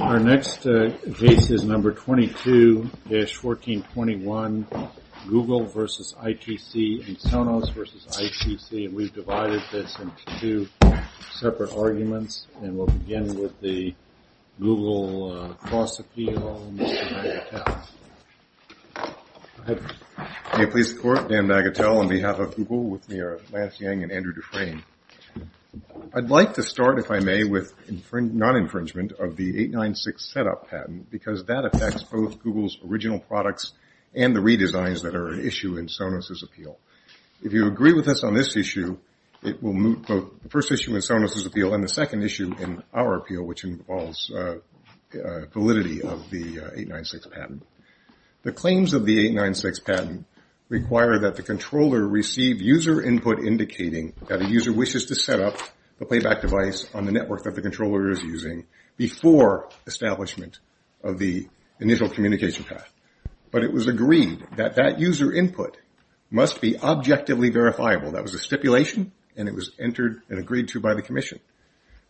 Our next case is No. 22-1421, Google v. ITC and Sonos v. ITC, and we've divided this into two separate arguments, and we'll begin with the Google cross-appeal, Mr. Magatel. May it please the Court, Dan Magatel on behalf of Google, with me are Lance Yang and Andrew 896 setup patent because that affects both Google's original products and the redesigns that are an issue in Sonos' appeal. If you agree with us on this issue, it will move both the first issue in Sonos' appeal and the second issue in our appeal, which involves validity of the 896 patent. The claims of the 896 patent require that the controller receive user input indicating that a user wishes to set up the playback device on the network that the controller is using before establishment of the initial communication path, but it was agreed that that user input must be objectively verifiable. That was a stipulation, and it was entered and agreed to by the Commission.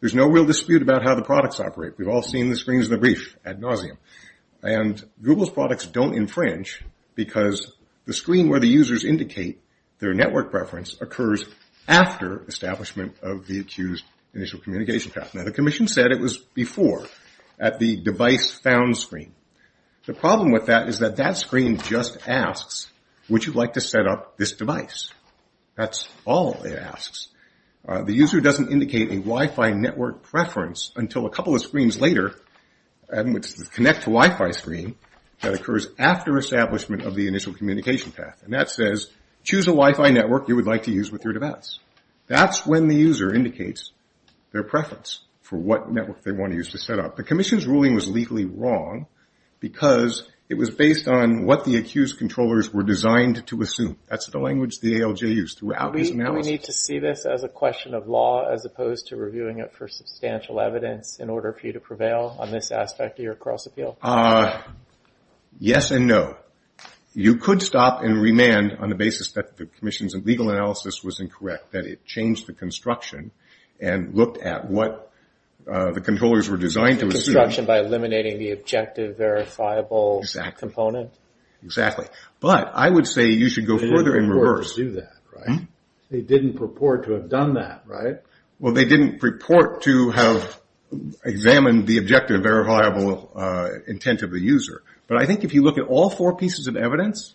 There's no real dispute about how the products operate. We've all seen the screens of the brief ad nauseum, and Google's products don't infringe because the screen where the users indicate their network preference occurs after establishment of the accused initial communication path. Now, the Commission said it was before at the device found screen. The problem with that is that that screen just asks, would you like to set up this device? That's all it asks. The user doesn't indicate a Wi-Fi network preference until a couple of screens later, and which is the connect to Wi-Fi screen, that occurs after establishment of the initial communication path, and that says choose a Wi-Fi network you would like to use with your device. That's when the user indicates their preference for what network they want to use to set up. The Commission's ruling was legally wrong because it was based on what the accused controllers were designed to assume. That's the language the ALJ used throughout his analysis. We need to see this as a question of law as opposed to reviewing it for substantial evidence in order for you to prevail on this aspect of your cross-appeal. Yes and no. You could stop and remand on the basis that the Commission's legal analysis was incorrect, that it changed the construction and looked at what the controllers were designed to assume. Construction by eliminating the objective verifiable component? Exactly. But I would say you should go further in reverse. They didn't purport to do that, right? They didn't purport to have done that, right? Well, they didn't purport to have examined the objective verifiable intent of the user. But I think if you look at all four pieces of evidence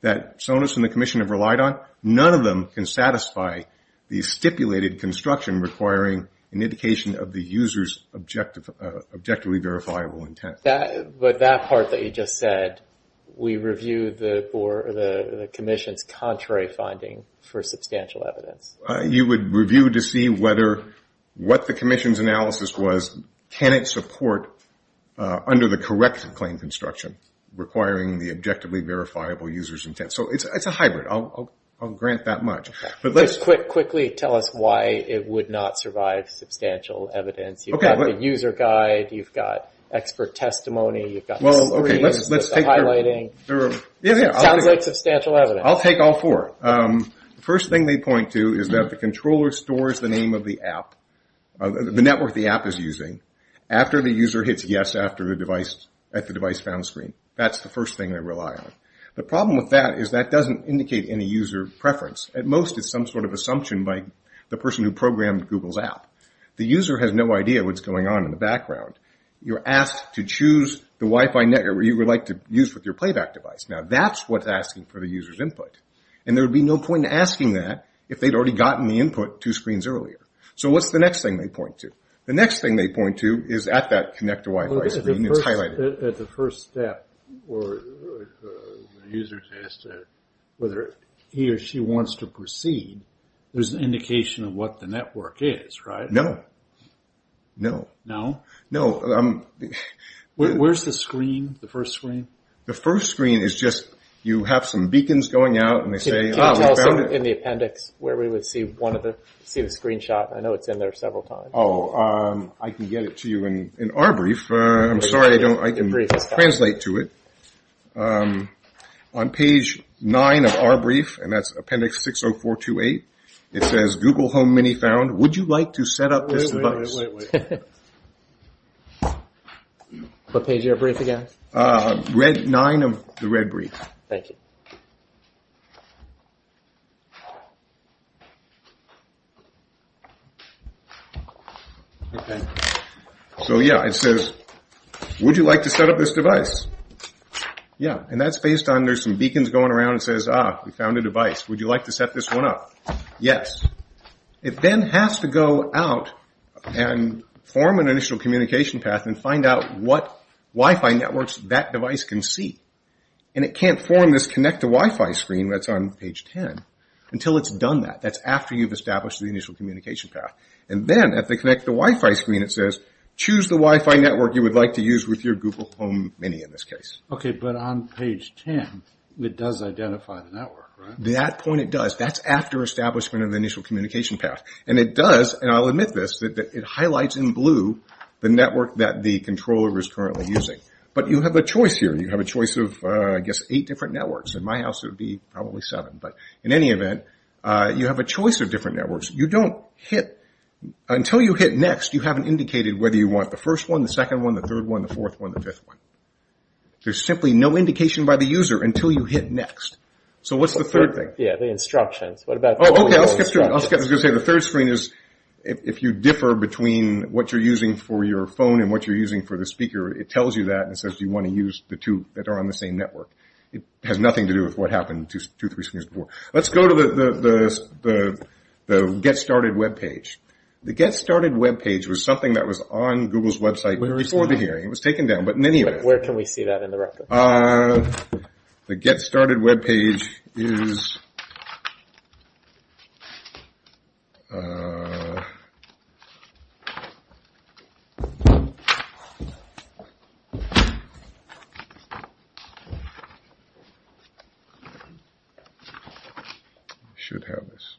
that Sonos and the Commission have relied on, none of them can satisfy the stipulated construction requiring an indication of the user's objectively verifiable intent. But that part that you just said, we review the Commission's contrary finding for substantial evidence. You would review to see whether what the Commission's analysis was, can it support under the correct claim construction requiring the objectively verifiable user's intent. So it's a hybrid. I'll grant that much. Let's quickly tell us why it would not survive substantial evidence. You've got the user guide, you've got expert testimony, you've got the screens, the highlighting. It sounds like substantial evidence. I'll take all four. The first thing they point to is that the controller stores the name of the app, the network the app is using, after the user hits yes at the device found screen. That's the first thing they rely on. The problem with that is that doesn't indicate any user preference. At most it's some sort of assumption by the person who programmed Google's app. The user has no idea what's going on in the background. You're asked to choose the Wi-Fi network you would like to use with your playback device. Now that's what's asking for the user's input. And there would be no point in asking that if they'd already gotten the input two screens earlier. So what's the next thing they point to? The next thing they point to is at that connect to Wi-Fi screen, it's highlighted. At the first step where the user says whether he or she wants to proceed, there's an indication of what the network is, right? No. No. No. No. Where's the screen? The first screen? The first screen is just you have some beacons going out. Can you tell us in the appendix where we would see the screenshot? I know it's in there several times. Oh, I can get it to you in our brief. I'm sorry I can't translate to it. On page nine of our brief, and that's appendix 60428, it says Google Home Mini found. Would you like to set up this device? Wait. Wait. Wait. Wait. What page of your brief again? Nine of the red brief. Thank you. So yeah, it says, would you like to set up this device? Yeah. And that's based on there's some beacons going around. It says, ah, we found a device. Would you like to set this one up? Yes. It then has to go out and form an initial communication path and find out what Wi-Fi networks that device can see. And it can't form this connect to Wi-Fi screen that's on page 10 until it's done that. That's after you've established the initial communication path. And then at the connect to Wi-Fi screen, it says, choose the Wi-Fi network you would like to use with your Google Home Mini in this case. Okay, but on page 10, it does identify the network, right? At that point, it does. That's after establishment of the initial communication path. And it does, and I'll admit this, that it highlights in blue the network that the controller is currently using. But you have a choice here. You have a choice of, I guess, eight different networks. In my house, it would be probably seven. But in any event, you have a choice of different networks. You don't hit, until you hit next, you haven't indicated whether you want the first one, the second one, the third one, the fourth one, the fifth one. There's simply no indication by the user until you hit next. So what's the third thing? Yeah, the instructions. What about the instructions? Okay, I was going to say, the third screen is, if you differ between what you're using for your phone and what you're using for the speaker, it tells you that and says, do you want to use the two that are on the same network? It has nothing to do with what happened two, three screens before. Let's go to the Get Started webpage. The Get Started webpage was something that was on Google's website before the hearing. It was taken down, but in any event. Where can we see that in the record? The Get Started webpage is. I should have this.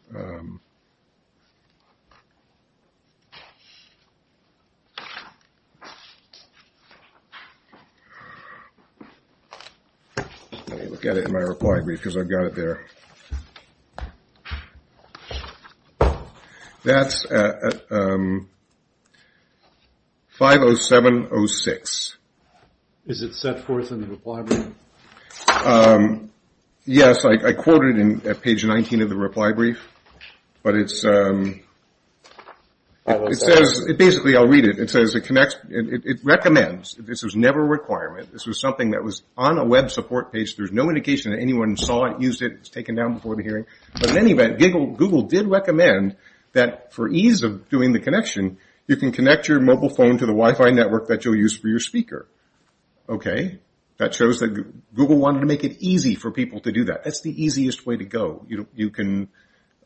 Let me look at it in my reply brief, because I've got it there. That's at 50706. Is it set forth in the reply brief? Yes, I quoted it at page 19 of the reply brief. Basically, I'll read it. It says it connects. It recommends. This was never a requirement. This was something that was on a web support page. There's no indication that anyone saw it, used it. It was taken down before the hearing. But in any event, Google did recommend that for ease of doing the connection, you can connect your mobile phone to the Wi-Fi network that you'll use for your speaker. Okay. That shows that Google wanted to make it easy for people to do that. That's the easiest way to go. You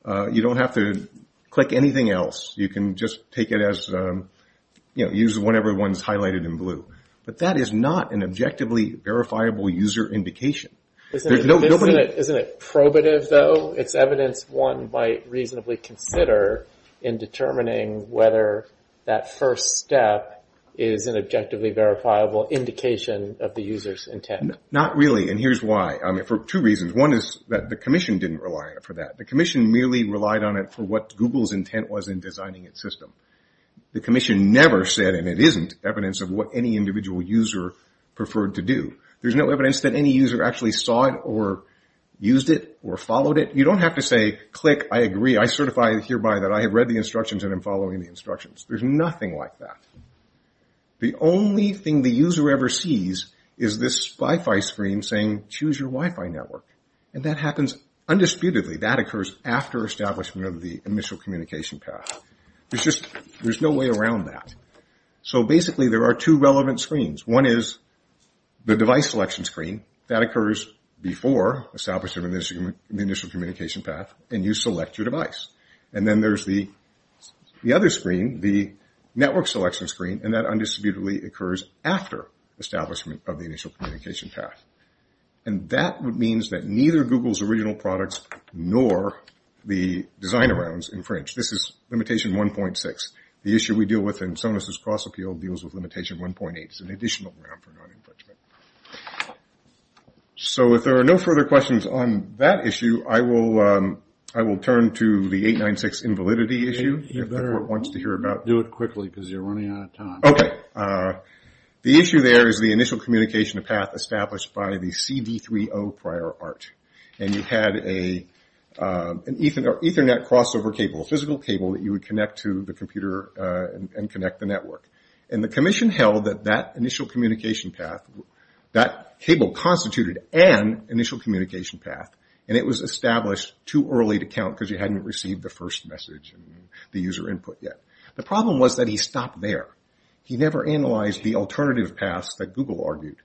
don't have to click anything else. You can just take it as, you know, use whatever one's highlighted in blue. But that is not an objectively verifiable user indication. Isn't it probative, though? It's evidence one might reasonably consider in determining whether that first step is an objectively verifiable indication of the user's intent. Not really, and here's why. I mean, for two reasons. One is that the commission didn't rely on it for that. The commission merely relied on it for what Google's intent was in designing its system. The commission never said, and it isn't, evidence of what any individual user preferred to do. There's no evidence that any user actually saw it or used it or followed it. You don't have to say, click, I agree. I certify hereby that I have read the instructions and am following the instructions. There's nothing like that. The only thing the user ever sees is this Wi-Fi screen saying, choose your Wi-Fi network. And that happens undisputedly. That occurs after establishment of the initial communication path. There's no way around that. So basically there are two relevant screens. One is the device selection screen. That occurs before establishment of the initial communication path, and you select your device. And then there's the other screen, the network selection screen, and that undisputedly occurs after establishment of the initial communication path. And that means that neither Google's original products nor the designer rounds infringe. This is limitation 1.6. The issue we deal with in Sonos' cross-appeal deals with limitation 1.8. It's an additional round for non-infringement. So if there are no further questions on that issue, I will turn to the 896 invalidity issue. You better do it quickly because you're running out of time. Okay. The issue there is the initial communication path established by the CD3O prior art. And you had an Ethernet crossover cable, a physical cable that you would connect to the computer and connect the network. And the commission held that that initial communication path, that cable constituted an initial communication path, and it was established too early to count because you hadn't received the first message and the user input yet. The problem was that he stopped there. He never analyzed the alternative paths that Google argued.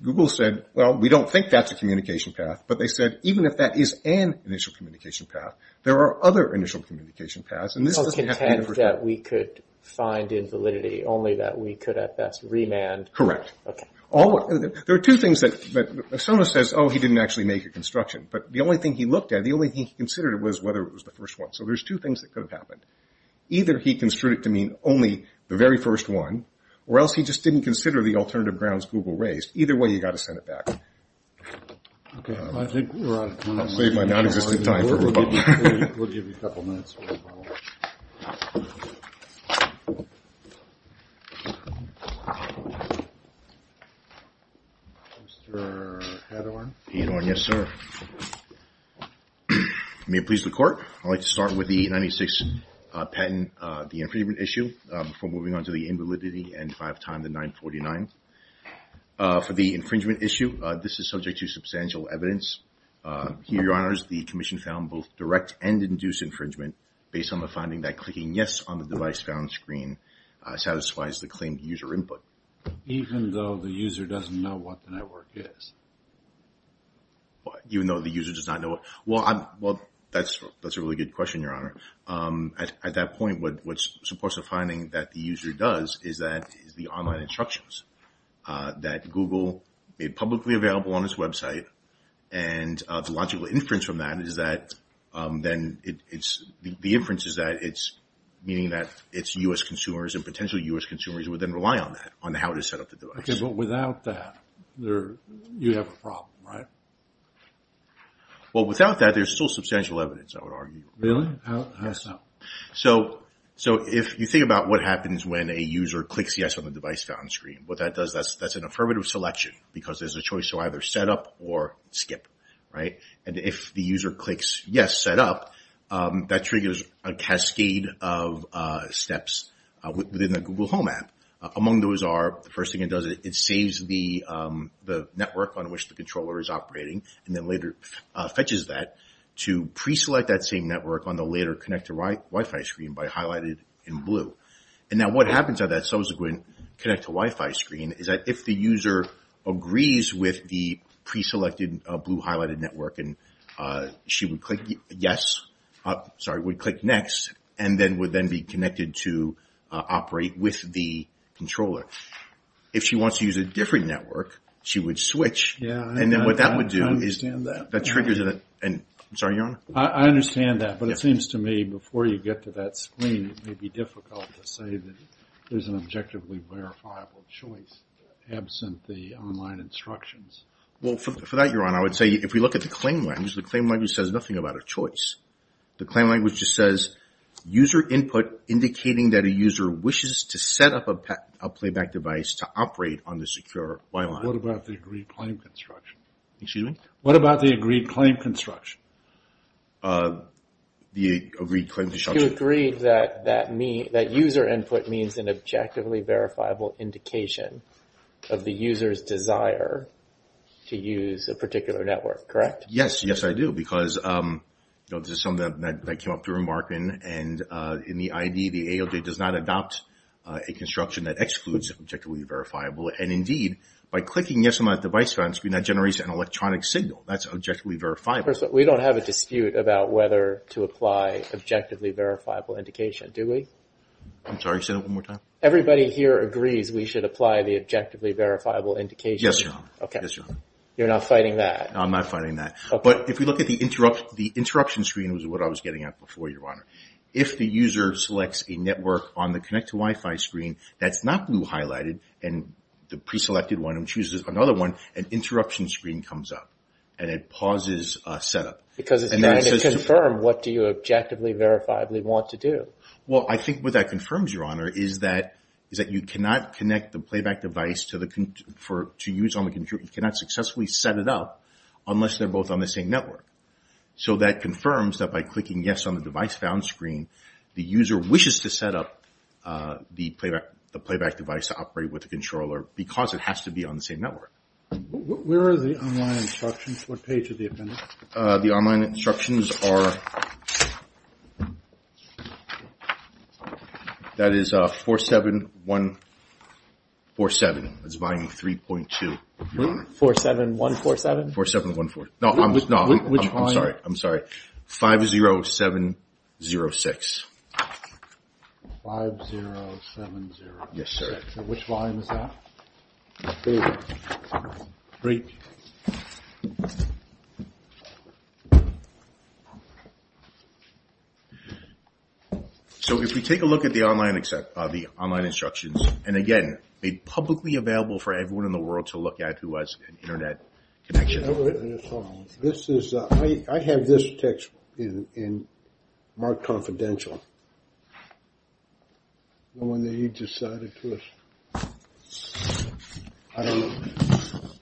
Google said, well, we don't think that's a communication path, but they said even if that is an initial communication path, there are other initial communication paths. So content that we could find invalidity only that we could at best remand. Correct. Okay. There are two things that Sona says, oh, he didn't actually make a construction. But the only thing he looked at, the only thing he considered was whether it was the first one. So there's two things that could have happened. Either he construed it to mean only the very first one or else he just didn't consider the alternative grounds Google raised. Either way, you've got to send it back. Okay. I think we're out of time. I'll save my nonexistent time for Roboto. We'll give you a couple minutes for Roboto. Mr. Hadorn? Hadorn, yes, sir. May it please the Court, I'd like to start with the 96 patent, the infringement issue, before moving on to the invalidity and if I have time, the 949. For the infringement issue, this is subject to substantial evidence. Here, Your Honor, the Commission found both direct and induced infringement based on the finding that clicking yes on the device found on the screen satisfies the claimed user input. Even though the user doesn't know what the network is? Even though the user does not know it? Well, that's a really good question, Your Honor. At that point, what's supposed to be the finding that the user does is that it's the online instructions that Google made publicly available on its website and the logical inference from that is that then it's the inferences that it's meaning that it's U.S. consumers and potential U.S. consumers would then rely on that, on how to set up the device. Okay, but without that, you have a problem, right? Well, without that, there's still substantial evidence, I would argue. Really? How so? So if you think about what happens when a user clicks yes on the device found screen, what that does, that's an affirmative selection because there's a choice to either set up or skip, right? And if the user clicks yes, set up, that triggers a cascade of steps within the Google Home app. Among those are, the first thing it does, it saves the network on which the controller is operating and then later fetches that to pre-select that same network on the later connect-to-Wi-Fi screen by highlighted in blue. And now what happens at that subsequent connect-to-Wi-Fi screen is that if the user agrees with the pre-selected blue highlighted network and she would click yes, sorry, would click next, and then would then be connected to operate with the controller. If she wants to use a different network, she would switch. Yeah, I understand that. And then what that would do is that triggers a, sorry, Your Honor? I understand that, but it seems to me before you get to that screen, it may be difficult to say that there's an objectively verifiable choice absent the online instructions. Well, for that, Your Honor, I would say if we look at the claim language, the claim language says nothing about a choice. The claim language just says user input indicating that a user wishes to set up a playback device to operate on the secure Wi-Fi. What about the agreed claim construction? Excuse me? What about the agreed claim construction? The agreed claim construction. You agreed that user input means an objectively verifiable indication of the user's desire to use a particular network, correct? Yes, yes, I do. Because, you know, this is something that I came up through in marketing. And in the ID, the AOJ does not adopt a construction that excludes And, indeed, by clicking yes on that device found screen, that generates an electronic signal. That's objectively verifiable. We don't have a dispute about whether to apply objectively verifiable indication, do we? I'm sorry, say that one more time. Everybody here agrees we should apply the objectively verifiable indication. Yes, Your Honor. Okay. You're not fighting that? I'm not fighting that. If the user selects a network on the connect to Wi-Fi screen that's not blue highlighted and the preselected one chooses another one, an interruption screen comes up. And it pauses setup. Because it's trying to confirm what do you objectively verifiably want to do. Well, I think what that confirms, Your Honor, is that you cannot connect the playback device to use on the computer. You cannot successfully set it up unless they're both on the same network. So that confirms that by clicking yes on the device found screen, the user wishes to set up the playback device to operate with the controller because it has to be on the same network. Where are the online instructions? What page are they in? The online instructions are, that is 47147. That's volume 3.2, Your Honor. 47147? 47147. No, I'm sorry. 50706. 50706. Yes, sir. Which volume is that? Three. So if we take a look at the online instructions, and again, made publicly available for everyone in the world to look at who has an Internet connection. I have this text marked confidential. Knowing that you decided to...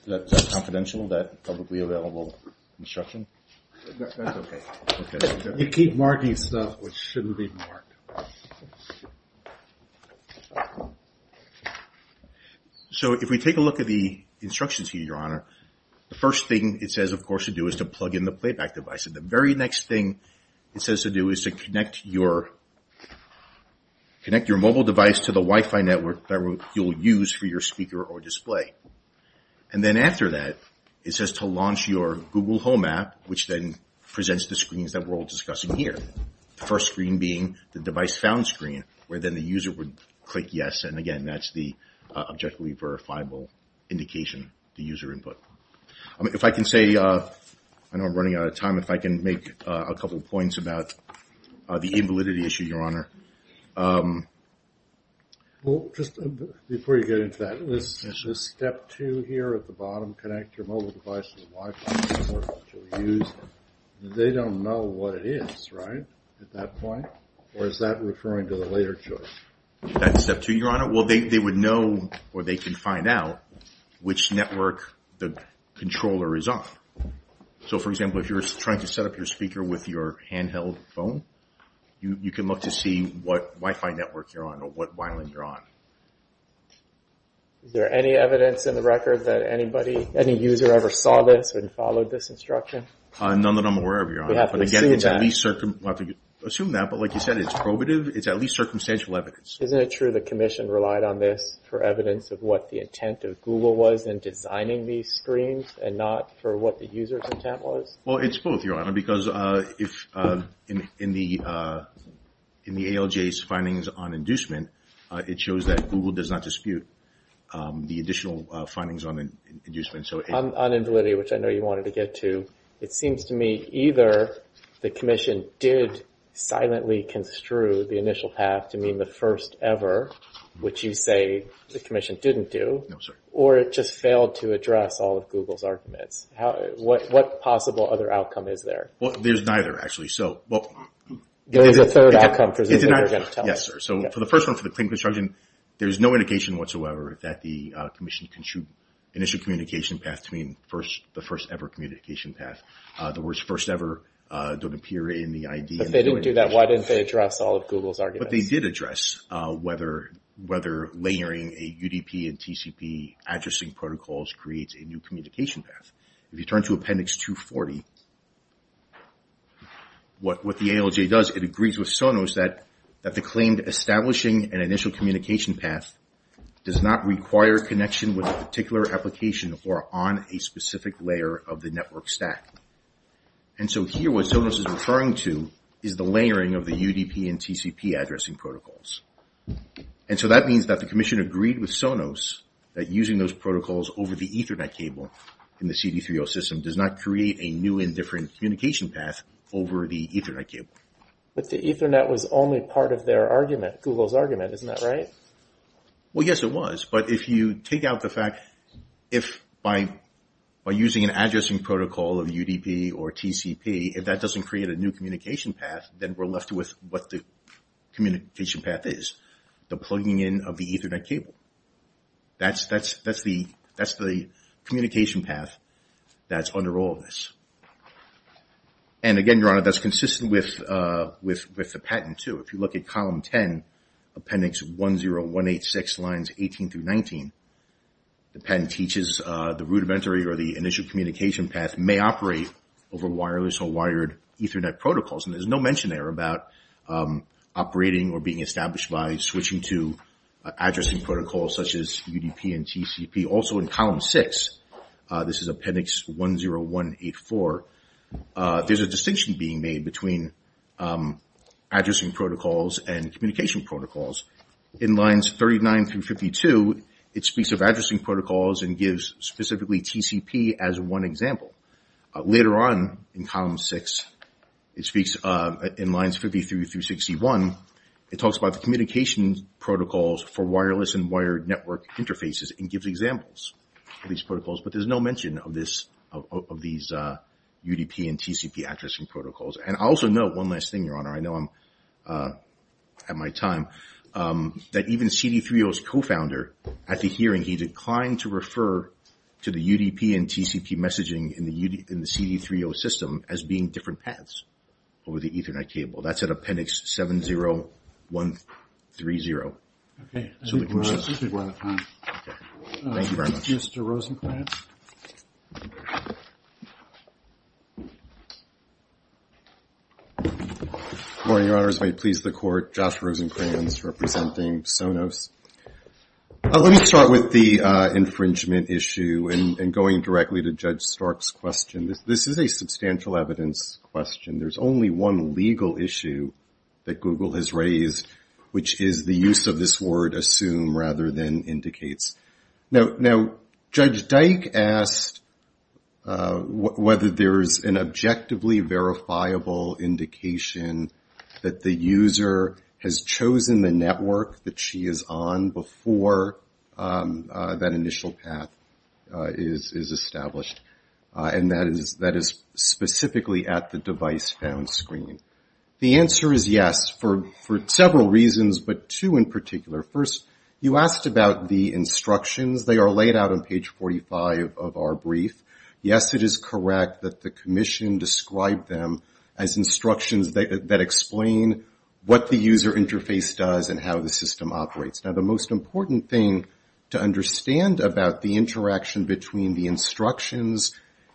That's confidential, that publicly available instruction? That's okay. You keep marking stuff which shouldn't be marked. So if we take a look at the instructions here, Your Honor, the first thing it says, of course, to do is to plug in the playback device. And the very next thing it says to do is to connect your mobile device to the Wi-Fi network that you'll use for your speaker or display. And then after that, it says to launch your Google Home app, which then presents the screens that we're all discussing here. The first screen being the device found screen, where then the user would click yes, and again, that's the objectively verifiable indication, the user input. If I can say, I know I'm running out of time, if I can make a couple points about the invalidity issue, Your Honor. Well, just before you get into that, is this step two here at the bottom, connect your mobile device to the Wi-Fi network that you'll use? They don't know what it is, right, at that point? Or is that referring to the later choice? That's step two, Your Honor. Well, they would know, or they can find out, which network the controller is on. So, for example, if you're trying to set up your speaker with your handheld phone, you can look to see what Wi-Fi network you're on, or what wireless you're on. Is there any evidence in the record that any user ever saw this and followed this instruction? None that I'm aware of, Your Honor. But again, it's at least circumstantial evidence. Isn't it true the Commission relied on this for evidence of what the intent of Google was in designing these screens, and not for what the user's intent was? Well, it's both, Your Honor, because in the ALJ's findings on inducement, it shows that Google does not dispute the additional findings on inducement. On Invalidity, which I know you wanted to get to, it seems to me either the Commission did silently construe the initial path to mean the first ever, which you say the Commission didn't do, or it just failed to address all of Google's arguments. What possible other outcome is there? Well, there's neither, actually. There is a third outcome, presumably, you're going to tell us. Yes, sir. So for the first one, for the Claim Construction, there's no indication whatsoever that the Commission construed initial communication path to mean the first ever communication path. The words first ever don't appear in the ID. But they didn't do that. Why didn't they address all of Google's arguments? But they did address whether layering a UDP and TCP addressing protocols creates a new communication path. If you turn to Appendix 240, what the ALJ does, it agrees with Sonos that the claimed establishing an initial communication path does not require connection with a particular application or on a specific layer of the network stack. And so here what Sonos is referring to is the layering of the UDP and TCP addressing protocols. And so that means that the Commission agreed with Sonos that using those protocols over the Ethernet cable in the CD3O system does not create a new and different communication path over the Ethernet cable. But the Ethernet was only part of their argument, Google's argument, isn't that right? Well, yes, it was. But if you take out the fact if by using an addressing protocol of UDP or TCP, if that doesn't create a new communication path, then we're left with what the communication path is, the plugging in of the Ethernet cable. That's the communication path that's under all of this. And again, Your Honor, that's consistent with the patent too. If you look at Column 10, Appendix 10186, Lines 18 through 19, the patent teaches the rudimentary or the initial communication path may operate over wireless or wired Ethernet protocols. And there's no mention there about operating or being established by switching to addressing protocols such as UDP and TCP. Also in Column 6, this is Appendix 10184, there's a distinction being made between addressing protocols and communication protocols. In Lines 39 through 52, it speaks of addressing protocols and gives specifically TCP as one example. Later on in Column 6, it speaks in Lines 53 through 61, it talks about the communication protocols for wireless and wired network interfaces and gives examples of these protocols. But there's no mention of these UDP and TCP addressing protocols. And I'll also note one last thing, Your Honor, I know I'm at my time, that even CD3O's co-founder, at the hearing, he declined to refer to the UDP and TCP messaging in the CD3O system as being different paths over the Ethernet cable. That's at Appendix 70130. Okay, I think we're out of time. Thank you very much. Mr. Rosenkranz? Good morning, Your Honors. May it please the Court, Josh Rosenkranz representing Sonos. Let me start with the infringement issue and going directly to Judge Stark's question. This is a substantial evidence question. There's only one legal issue that Google has raised, which is the use of this word assume rather than indicates. Now, Judge Dyke asked whether there's an objectively verifiable indication that the user has chosen the network that she is on before that initial path is established, and that is specifically at the device found screen. The answer is yes, for several reasons, but two in particular. First, you asked about the instructions. They are laid out on page 45 of our brief. Yes, it is correct that the Commission described them as instructions that explain what the user interface does and how the system operates. Now, the most important thing to understand about the interaction between the instructions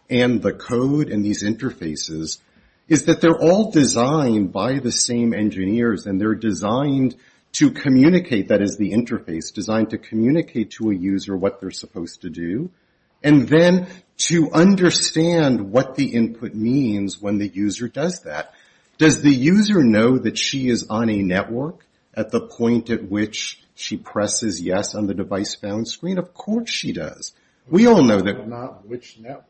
and the code and these interfaces is that they're all designed by the same engineers, and they're designed to communicate, that is the interface, designed to communicate to a user what they're supposed to do, and then to understand what the input means when the user does that. Does the user know that she is on a network at the point at which she presses yes on the device found screen? Of course she does. We all know that.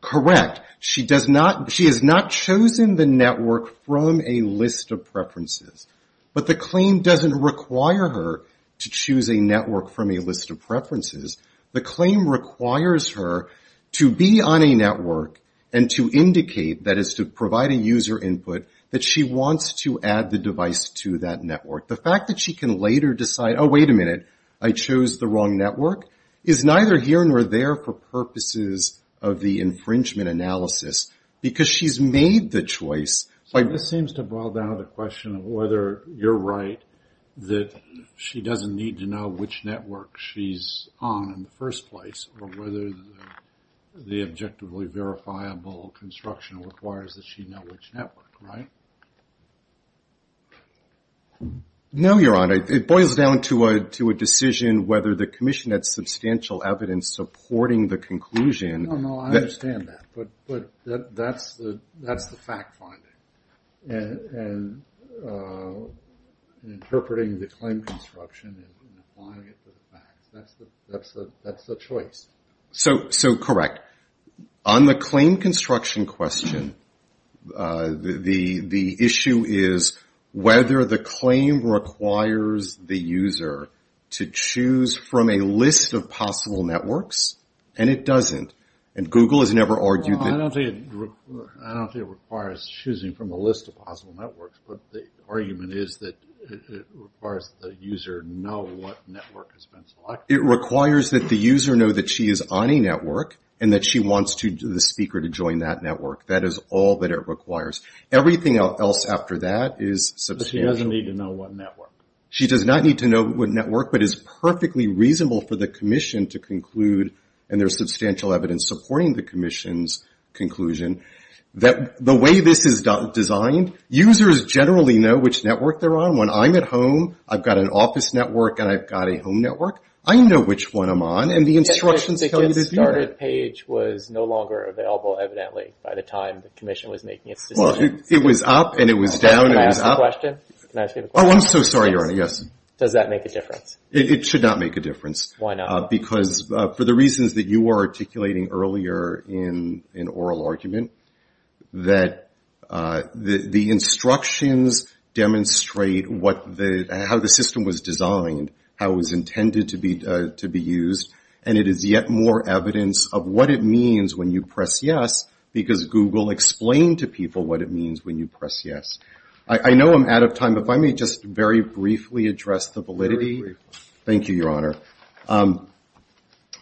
Correct. She has not chosen the network from a list of preferences. But the claim doesn't require her to choose a network from a list of preferences. The claim requires her to be on a network and to indicate, that is to provide a user input, that she wants to add the device to that network. The fact that she can later decide, oh, wait a minute, I chose the wrong network, is neither here nor there for purposes of the infringement analysis, because she's made the choice. This seems to boil down to the question of whether you're right, that she doesn't need to know which network she's on in the first place, or whether the objectively verifiable construction requires that she know which network, right? No, Your Honor. It boils down to a decision whether the commission had substantial evidence supporting the conclusion. No, no, I understand that. But that's the fact finding. And interpreting the claim construction and applying it to the facts, that's the choice. So, correct. On the claim construction question, the issue is whether the claim requires that she know which network, and it requires the user to choose from a list of possible networks, and it doesn't. And Google has never argued that. I don't think it requires choosing from a list of possible networks, but the argument is that it requires the user know what network has been selected. It requires that the user know that she is on a network and that she wants the speaker to join that network. That is all that it requires. Everything else after that is substantial. But she doesn't need to know what network. She does not need to know what network, but is perfectly reasonable for the commission to conclude, and there's substantial evidence supporting the commission's conclusion, that the way this is designed, users generally know which network they're on. When I'm at home, I've got an office network and I've got a home network. I know which one I'm on. And the instructions tell you to do that. Oh, I'm so sorry, Your Honor. Yes. It should not make a difference. Why not? Because for the reasons that you were articulating earlier in oral argument, that the instructions demonstrate how the system was designed, how it was intended to be used, and it is yet more evidence of what it means when you press yes, because Google explained to people what it means when you press yes. I know I'm out of time, but if I may just very briefly address the validity. Thank you, Your Honor.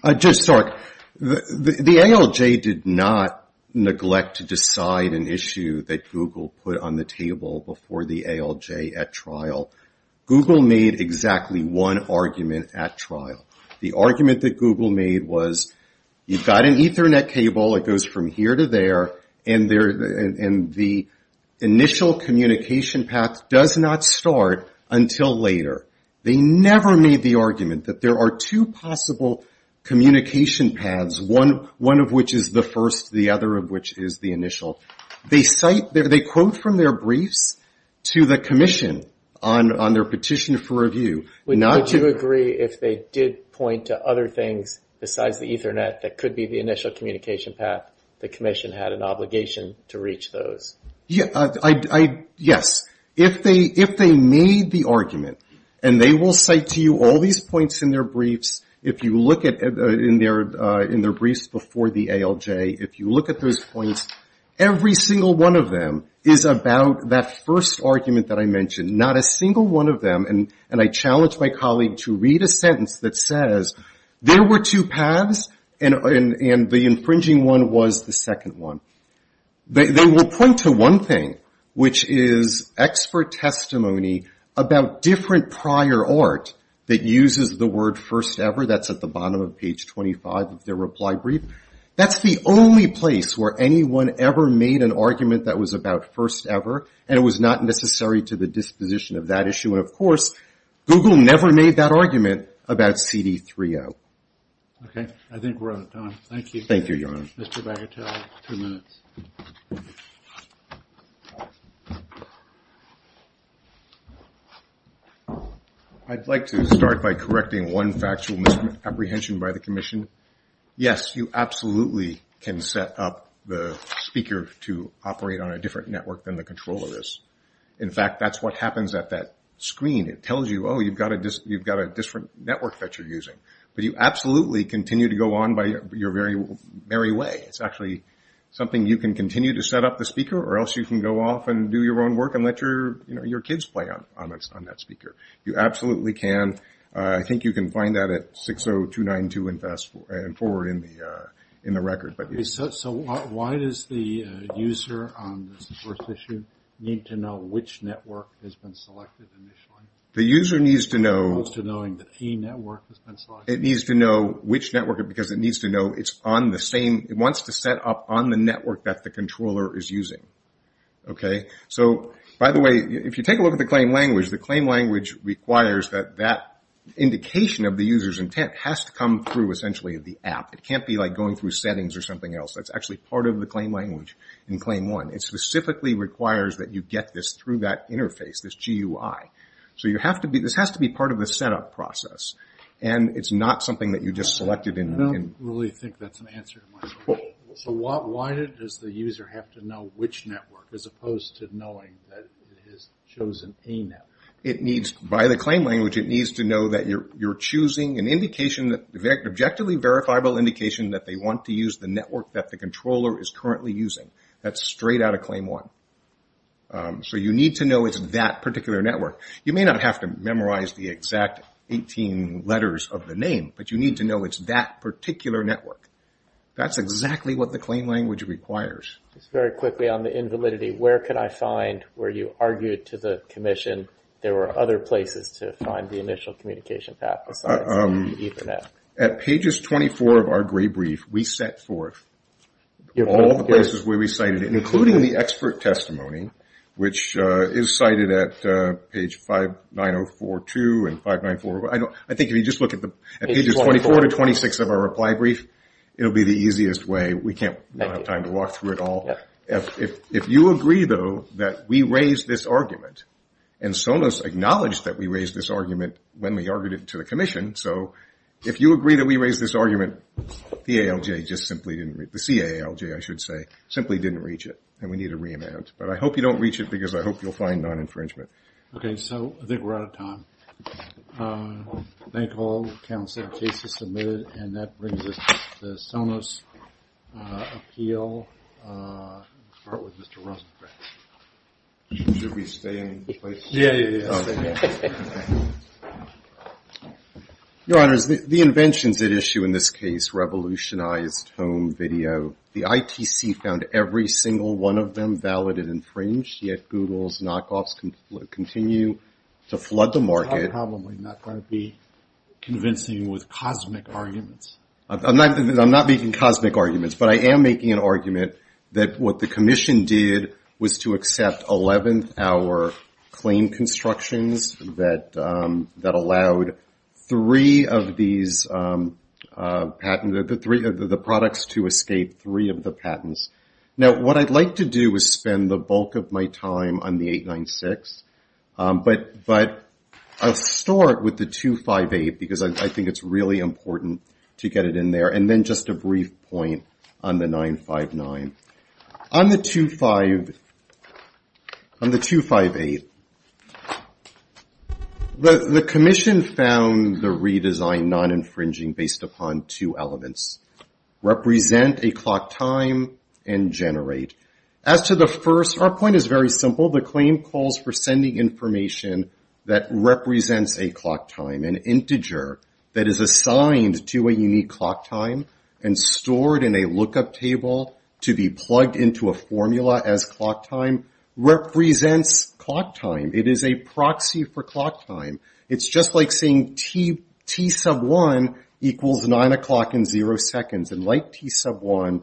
The ALJ did not neglect to decide an issue that Google put on the table before the ALJ at trial. The argument that Google made was you've got an Ethernet cable that goes from here to there, and the initial communication path does not start until later. They never made the argument that there are two possible communication paths, one of which is the first, the other of which is the initial. They quote from their briefs to the commission on their petition for review. Would you agree if they did point to other things besides the Ethernet that could be the initial communication path, the commission had an obligation to reach those? Yes. If they made the argument, and they will cite to you all these points in their briefs, if you look in their briefs before the ALJ, if you look at those points, every single one of them is about that first argument that I mentioned. Not a single one of them, and I challenge my colleague to read a sentence that says there were two paths, and the infringing one was the second one. They will point to one thing, which is expert testimony about different prior art that uses the word first ever. That's at the bottom of page 25 of their reply brief. That's the only place where anyone ever made an argument that was about first ever, and it was not necessary to the disposition of that issue. Of course, Google never made that argument about CD3O. I think we're out of time. I'd like to start by correcting one factual misapprehension by the commission. Yes, you absolutely can set up the speaker to operate on a different network than the controller is. In fact, that's what happens at that screen. It tells you, oh, you've got a different network that you're using, but you absolutely continue to go on by your very way. It's actually something you can continue to set up the speaker, or else you can go off and do your own work and let your kids play on that speaker. You absolutely can. I think you can find that at 60292 and forward in the record. It needs to know which network, because it wants to set up on the network that the controller is using. By the way, if you take a look at the claim language, the claim language requires that that indication of the user's intent has to come through the app. It can't be going through settings or something else. That's actually part of the claim language in claim one. It specifically requires that you get this through that interface, this GUI. This has to be part of the setup process. Why does the user have to know which network, as opposed to knowing that it has chosen a network? By the claim language, it needs to know that you're choosing an objectively verifiable indication that they want to use the network that the controller is currently using. That's straight out of claim one. You need to know it's that particular network. You may not have to memorize the exact 18 letters of the name, but you need to know it's that particular network. That's exactly what the claim language requires. At pages 24 of our gray brief, we set forth all the places we recited it, including the expert testimony, which is cited at page 59042 and 594. I think if you just look at pages 24 to 26 of our reply brief, it will be the easiest way. We don't have time to walk through it all. If you agree, though, that we raised this argument, and Sonos acknowledged that we raised this argument when we argued it to the Commission, so if you agree that we raised this argument, the CAALJ simply didn't reach it. We need to re-enact. I hope you don't reach it, because I hope you'll find non-infringement. I think we're out of time. Thank you all. The case is submitted. That brings us to the Sonos appeal. Let's start with Mr. Rosenkranz. Your Honors, the inventions at issue in this case revolutionized home video. The ITC found every single one of them valid and infringed, yet Google's knockoffs continue to flood the market. I'm probably not going to be convincing you with cosmic arguments. I'm not making cosmic arguments, but I am making an argument that what the Commission did was to accept 11th hour claim constructions that allowed three of these patents, the products to escape three of the patents. Now, what I'd like to do is spend the bulk of my time on the 896, but I'll start with the 258, because I think it's really important to get it in there, and then just a brief point on the 959. On the 258, the Commission found the redesign non-infringing based upon two elements, represent a clock time, and generate. As to the first, our point is very simple. The claim calls for sending information that represents a clock time, an integer that is assigned to a unique clock time and stored in a lookup table to be plugged into a formula as clock time, represents clock time. It is a proxy for clock time. It's just like saying T sub 1 equals 9 o'clock in zero seconds. And like T sub 1,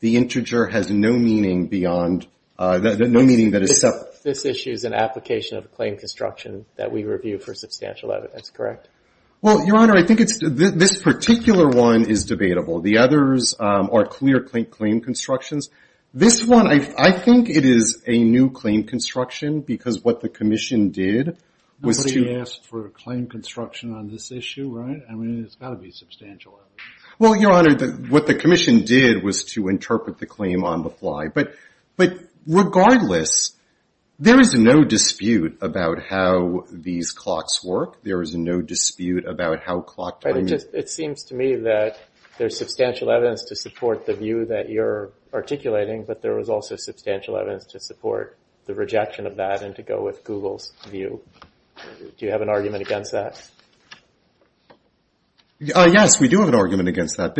the integer has no meaning beyond, no meaning that is separate. So this issue is an application of a claim construction that we review for substantial evidence, correct? Well, Your Honor, I think this particular one is debatable. The others are clear claim constructions. This one, I think it is a new claim construction, because what the Commission did was to... Nobody asked for a claim construction on this issue, right? I mean, it's got to be substantial evidence. Well, Your Honor, what the Commission did was to interpret the claim on the fly. But regardless, there is no dispute about how these clocks work. There is no dispute about how clock time... It seems to me that there is substantial evidence to support the view that you are articulating, but there is also substantial evidence to support the rejection of that and to go with Google's view. Do you have an argument against that? Yes, we do have an argument against that.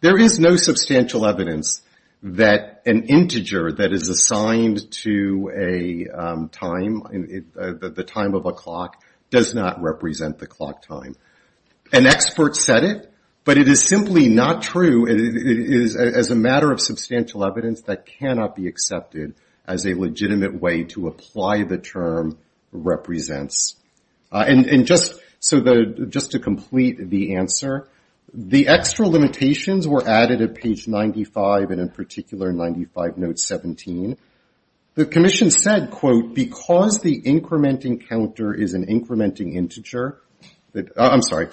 There is no substantial evidence that an integer that is assigned to a time, the time of a clock, does not represent the clock time. An expert said it, but it is simply not true. As a matter of substantial evidence, that cannot be accepted as a legitimate way to apply the term represents. And just to complete the answer, the extra limitations were added at page 95 and in particular 95 note 17. The Commission said, quote, because the incrementing counter is an incrementing integer... I'm sorry,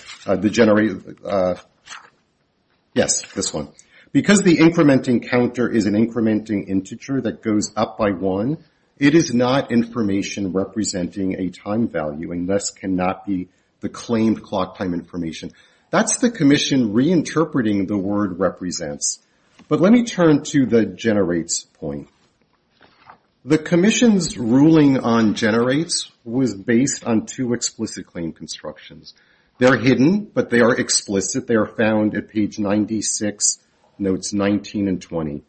yes, this one. Because the incrementing counter is an incrementing integer that goes up by one, it is not information representing a time value and thus cannot be the claimed clock time information. That's the Commission reinterpreting the word represents. But let me turn to the generates point. The Commission's ruling on generates was based on two explicit claim constructions. They are hidden, but they are explicit. They are found at page 96, notes 19 and 20,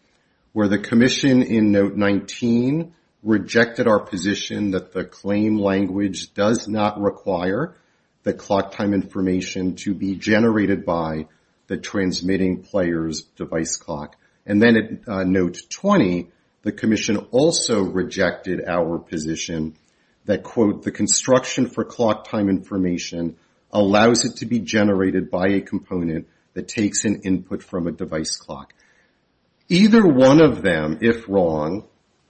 where the Commission in note 19 rejected our position that the claim language does not require the clock time information to be generated by the transmitting player's device clock. And then at note 20, the Commission also rejected our position that, quote, the construction for clock time information allows it to be generated by a component that takes an input from a device clock. Either one of them, if wrong,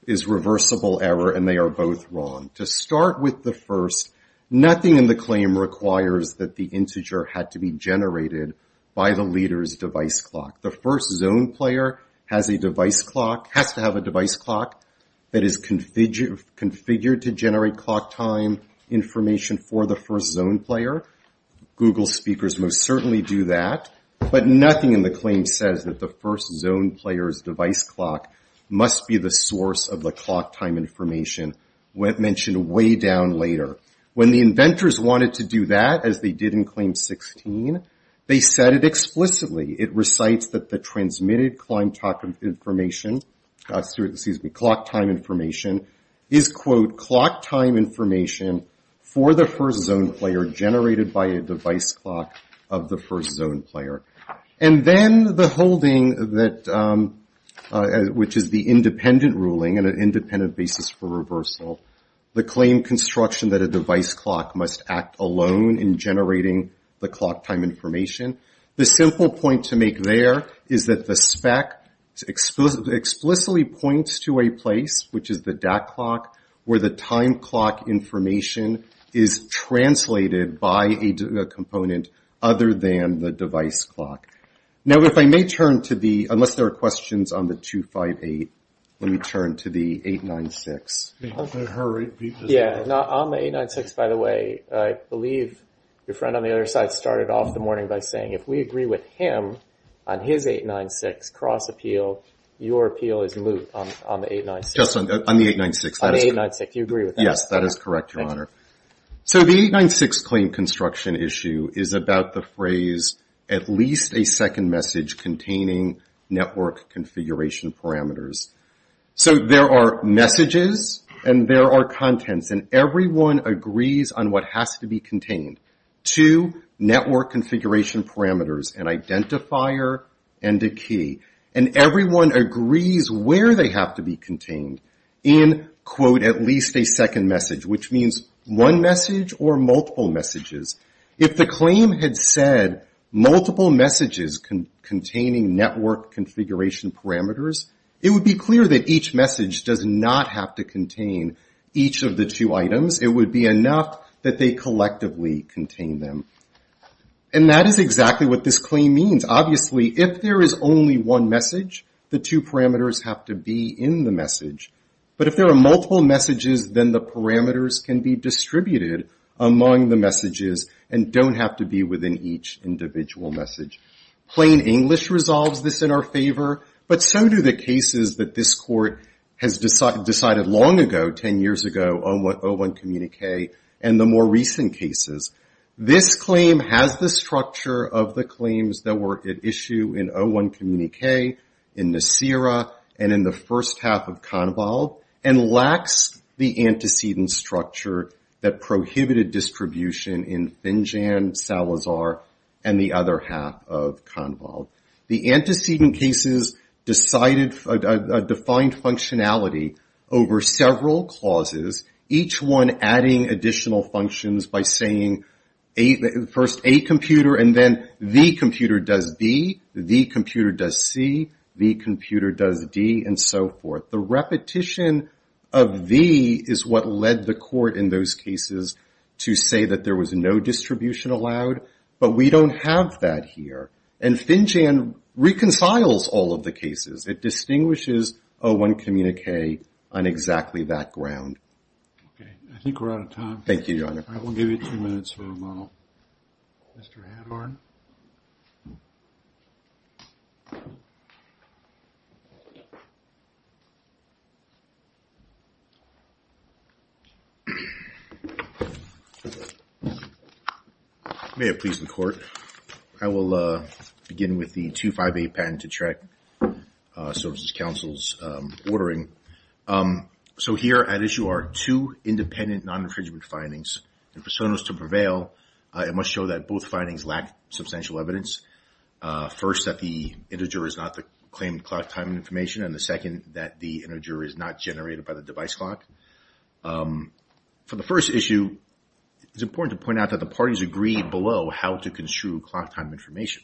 is reversible error and they are both wrong. To start with the first, nothing in the claim requires that the integer had to be generated by the leader's device clock. The first zone player has a device clock, has to have a device clock that is configured to generate clock time information for the first zone player. Google speakers most certainly do that. But nothing in the claim says that the first zone player's device clock must be the source of the clock time information mentioned way down later. When the inventors wanted to do that, as they did in claim 16, they said it explicitly. It recites that the transmitted clock time information is, quote, clock time information for the first zone player generated by a device clock of the first zone player. And then the holding, which is the independent ruling and an independent basis for reversal, the claim construction that a device clock must act alone in generating the clock time information. The simple point to make there is that the spec explicitly points to a place, which is the DAT clock, where the time clock information is translated by a component other than the device clock. Now if I may turn to the, unless there are questions on the 258, let me turn to the 896. Yeah, on the 896, by the way, I believe your friend on the other side started off the morning by saying if we agree with him on his 896 cross-appeal, your appeal is moot on the 896. Just on the 896. Yes, that is correct, Your Honor. So the 896 claim construction issue is about the phrase, at least a second message containing network configuration parameters. So there are messages and there are contents, and everyone agrees on what has to be contained. Two network configuration parameters, an identifier and a key. And everyone agrees where they have to be contained in, quote, at least a second message. Which means one message or multiple messages. If the claim had said multiple messages containing network configuration parameters, it would be clear that each message does not have to contain each of the two items. It would be enough that they collectively contain them. And that is exactly what this claim means. Obviously, if there is only one message, the two parameters have to be in the message. But if there are multiple messages, then the parameters can be distributed among the messages and don't have to be within each individual message. Plain English resolves this in our favor, but so do the cases that this Court has decided long ago, 10 years ago, 01 communique and the more recent cases. This claim has the structure of the claims that were at issue in 01 communique, in Nisera, and in the first half of Convolve, and lacks the antecedent structure that prohibited distribution in Finjan, Salazar, and the other half of Convolve. The antecedent cases decided, defined functionality over several clauses, each one adding additional functions by saying, first, A computer, and then, B computer does B, B computer does C, B computer does D, and so forth. The repetition of B is what led the Court in those cases to say that there was no distribution allowed, but we don't have that here. And Finjan reconciles all of the cases. It distinguishes 01 communique on exactly that ground. Thank you, Your Honor. All right, we'll give you two minutes for a moment, Mr. Hadhorn. May it please the Court, I will begin with the 258 Patent to Track Services Council's ordering. So here at issue are two independent non-infringement findings, and for Sonos to prevail, it must show that both findings lack substantial evidence. First, that the integer is not the claimed clock time information, and the second, that the integer is not generated by the device clock. For the first issue, it's important to point out that the parties agreed below how to construe clock time information.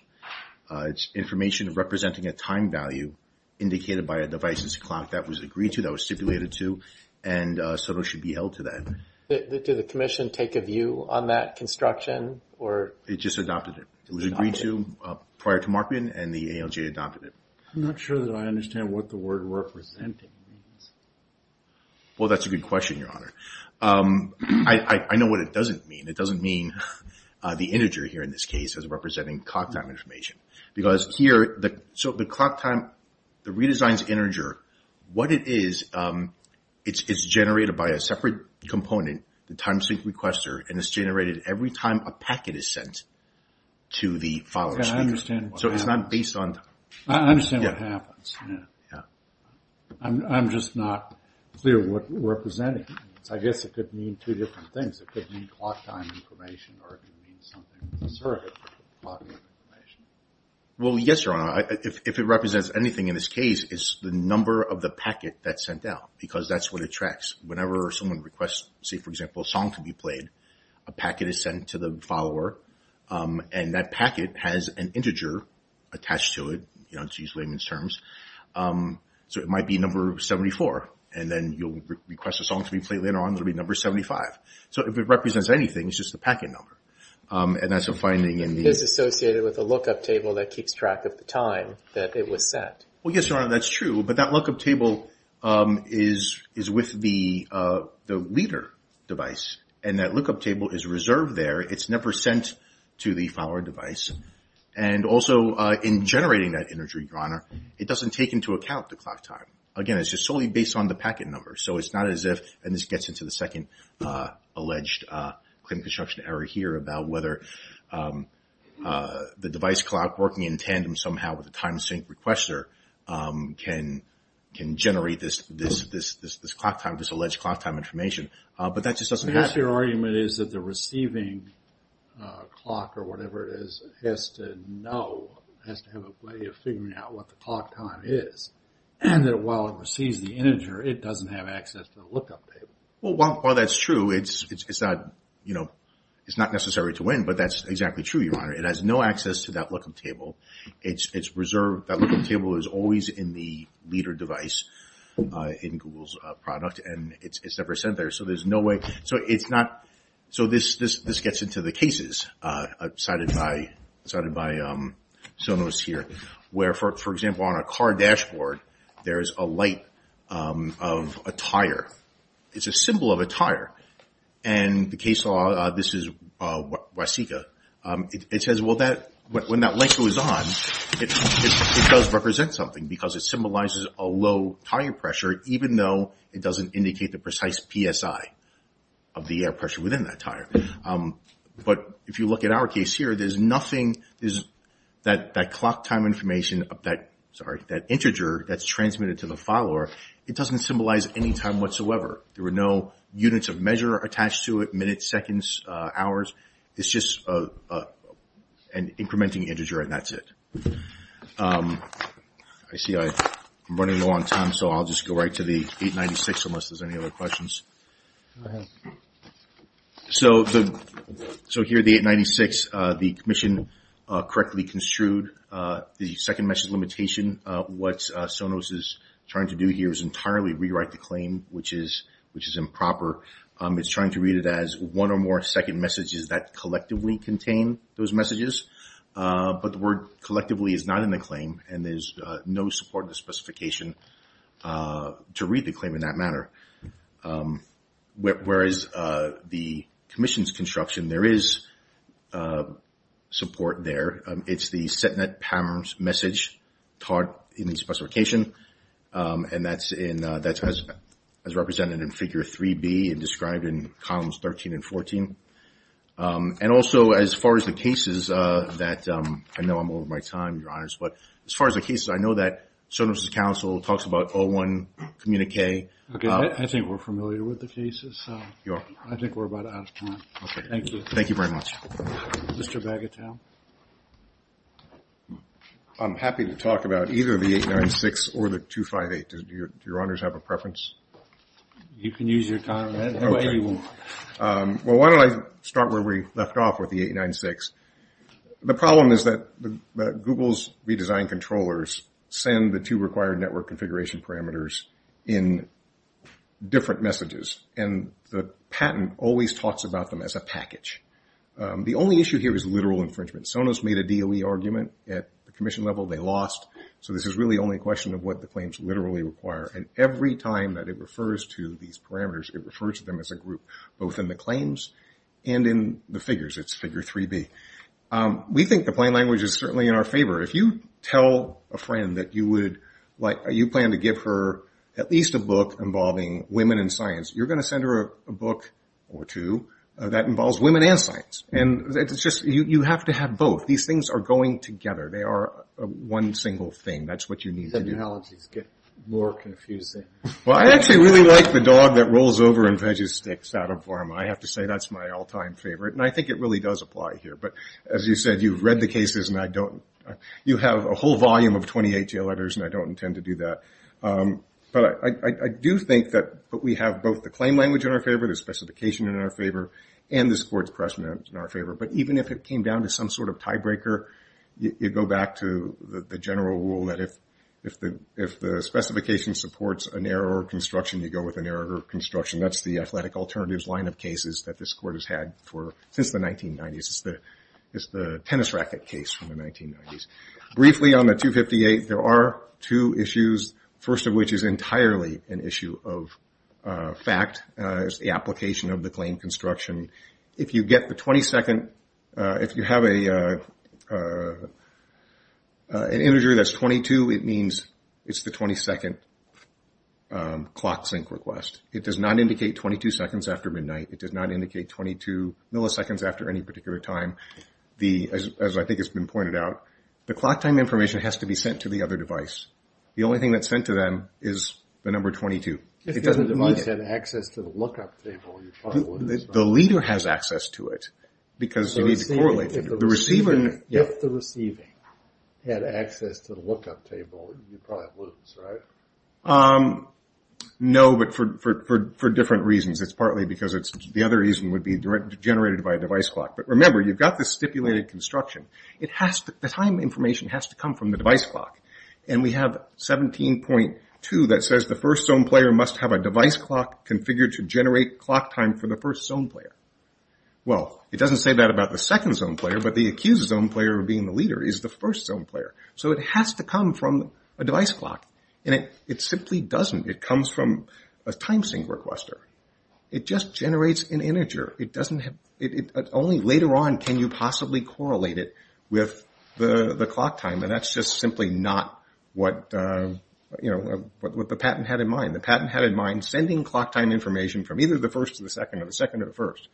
It's information representing a time value indicated by a device's clock that was agreed to, that was stipulated to, and Sonos should be held to that. Did the Commission take a view on that construction? It just adopted it. It was agreed to prior to Markman, and the ALJ adopted it. I'm not sure that I understand what the word representing means. Well, that's a good question, Your Honor. I know what it doesn't mean. It doesn't mean the integer here in this case is representing clock time information. Because here, the clock time, the redesign's integer, what it is, it's generated by a separate component, the time sync requester, and it's generated every time a packet is sent to the follower. So it's not based on time. I understand what happens. I'm just not clear what representing means. I guess it could mean two different things. It could mean clock time information, or it could mean something to the circuit. Well, yes, Your Honor. If it represents anything in this case, it's the number of the packet that's sent out, because that's what it tracks. Whenever someone requests, say, for example, a song to be played, a packet is sent to the follower, and that packet has an integer attached to it, to use layman's terms. So it might be number 74, and then you'll request a song to be played later on, and it'll be number 75. So if it represents anything, it's just the packet number, and that's a finding in the… It is associated with a lookup table that keeps track of the time that it was sent. Well, yes, Your Honor, that's true, but that lookup table is with the leader device, and that lookup table is reserved there. It's never sent to the follower device. And also, in generating that integer, Your Honor, it doesn't take into account the clock time. Again, it's just solely based on the packet number, so it's not as if… And this gets into the second alleged claim construction error here about whether the device clock working in tandem somehow with the time sync requester can generate this clock time, this alleged clock time information. But that just doesn't happen. Perhaps your argument is that the receiving clock or whatever it is has to know, has to have a way of figuring out what the clock time is, and that while it receives the integer, it doesn't have access to the lookup table. Well, while that's true, it's not, you know, it's not necessary to win, but that's exactly true, Your Honor. It has no access to that lookup table. It's reserved. That lookup table is always in the leader device in Google's product, and it's never sent there. So there's no way… So it's not… So this gets into the cases cited by Sonos here, where, for example, on a car dashboard, there is a light of a tire. It's a symbol of a tire, and the case law, this is Waseca, it says, well, when that light goes on, it does represent something because it symbolizes a low tire pressure, even though it doesn't indicate the precise PSI of the air pressure within that tire. But if you look at our case here, there's nothing, that clock time information, that integer that's transmitted to the follower, it doesn't symbolize any time whatsoever. There were no units of measure attached to it, minutes, seconds, hours. It's just an incrementing integer, and that's it. I see I'm running low on time, so I'll just go right to the 896 unless there's any other questions. Go ahead. So here, the 896, the commission correctly construed the second message limitation. What Sonos is trying to do here is entirely rewrite the claim, which is improper. It's trying to read it as one or more second messages that collectively contain those messages, but the word collectively is not in the claim, and there's no support in the specification to read the claim in that manner. Whereas the commission's construction, there is support there. It's the set net power message taught in the specification, and that's as represented in Figure 3B and described in Columns 13 and 14. And also, as far as the cases that, I know I'm over my time, Your Honors, but as far as the cases, I know that Sonos' counsel talks about 01 communique. Okay, I think we're familiar with the cases, so I think we're about out of time. Okay. Thank you. Thank you very much. Mr. Bagatelle. I'm happy to talk about either the 896 or the 258. Do Your Honors have a preference? You can use your time. Okay. Well, why don't I start where we left off with the 896. The problem is that Google's redesigned controllers send the two required network configuration parameters in different messages, and the patent always talks about them as a package. The only issue here is literal infringement. Sonos made a DOE argument at the commission level. They lost, so this is really only a question of what the claims literally require, and every time that it refers to these parameters, it refers to them as a group, both in the claims and in the figures. It's figure 3B. We think the plain language is certainly in our favor. If you tell a friend that you plan to give her at least a book involving women in science, you're going to send her a book or two that involves women and science, and you have to have both. These things are going together. They are one single thing. That's what you need to do. The analogies get more confusing. Well, I actually really like the dog that rolls over and veggies sticks out of Varma. I have to say that's my all-time favorite, and I think it really does apply here. But as you said, you've read the cases, and I don't. You have a whole volume of 28 jail letters, and I don't intend to do that. But I do think that we have both the claim language in our favor, the specification in our favor, and the sports precedent in our favor. But even if it came down to some sort of tiebreaker, you go back to the general rule that if the specification supports a narrower construction, you go with a narrower construction. That's the athletic alternatives line of cases that this court has had since the 1990s. It's the tennis racket case from the 1990s. Briefly on the 258, there are two issues, first of which is entirely an issue of fact. It's the application of the claim construction. If you get the 22nd, if you have an integer that's 22, it means it's the 22nd clock sync request. It does not indicate 22 seconds after midnight. It does not indicate 22 milliseconds after any particular time, as I think has been pointed out. The clock time information has to be sent to the other device. The only thing that's sent to them is the number 22. It doesn't need it. The leader has access to it because you need to correlate it. If the receiving had access to the lookup table, you'd probably lose, right? No, but for different reasons. It's partly because the other reason would be generated by a device clock. But remember, you've got this stipulated construction. The time information has to come from the device clock. And we have 17.2 that says the first zone player must have a device clock configured to generate clock time for the first zone player. Well, it doesn't say that about the second zone player, but the accused zone player being the leader is the first zone player. So it has to come from a device clock, and it simply doesn't. It comes from a time sync requester. It just generates an integer. Only later on can you possibly correlate it with the clock time, and that's just simply not what the patent had in mind. The patent had in mind sending clock time information from either the first to the second or the second to the first.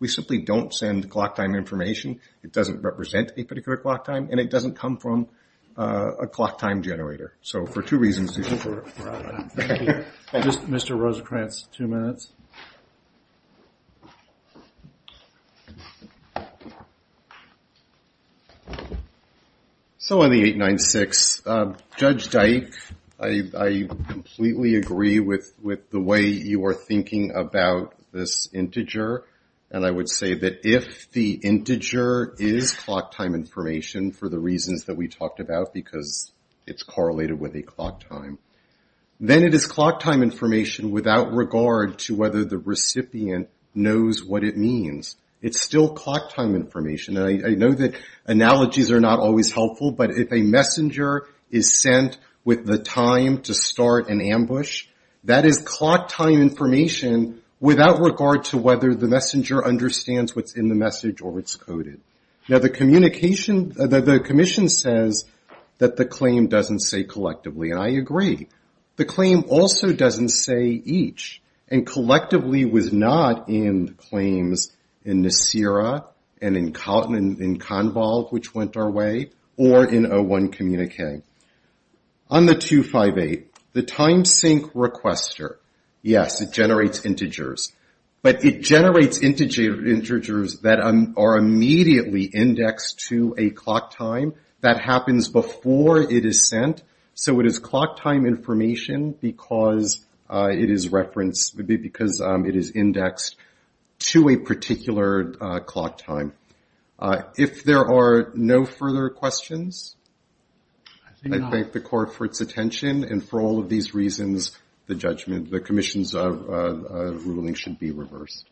We simply don't send clock time information. It doesn't represent a particular clock time, and it doesn't come from a clock time generator. So for two reasons. Thank you. Mr. Rosenkranz, two minutes. So on the 896, Judge Dyke, I completely agree with the way you are thinking about this integer, and I would say that if the integer is clock time information for the reasons that we talked about, because it's correlated with a clock time, then it is clock time information without regard to whether the recipient knows what it means. It's still clock time information, and I know that analogies are not always helpful, but if a messenger is sent with the time to start an ambush, that is clock time information without regard to whether the messenger understands what's in the message or it's coded. Now, the Commission says that the claim doesn't say collectively, and I agree. The claim also doesn't say each, and collectively was not in claims in Nisera and in Convolve, which went our way, or in O1 Communique. On the 258, the time sync requester, yes, it generates integers. But it generates integers that are immediately indexed to a clock time that happens before it is sent, so it is clock time information because it is referenced, because it is indexed to a particular clock time. If there are no further questions, I thank the Court for its attention, and for all of these reasons, the judgment, the Commission's ruling should be reversed.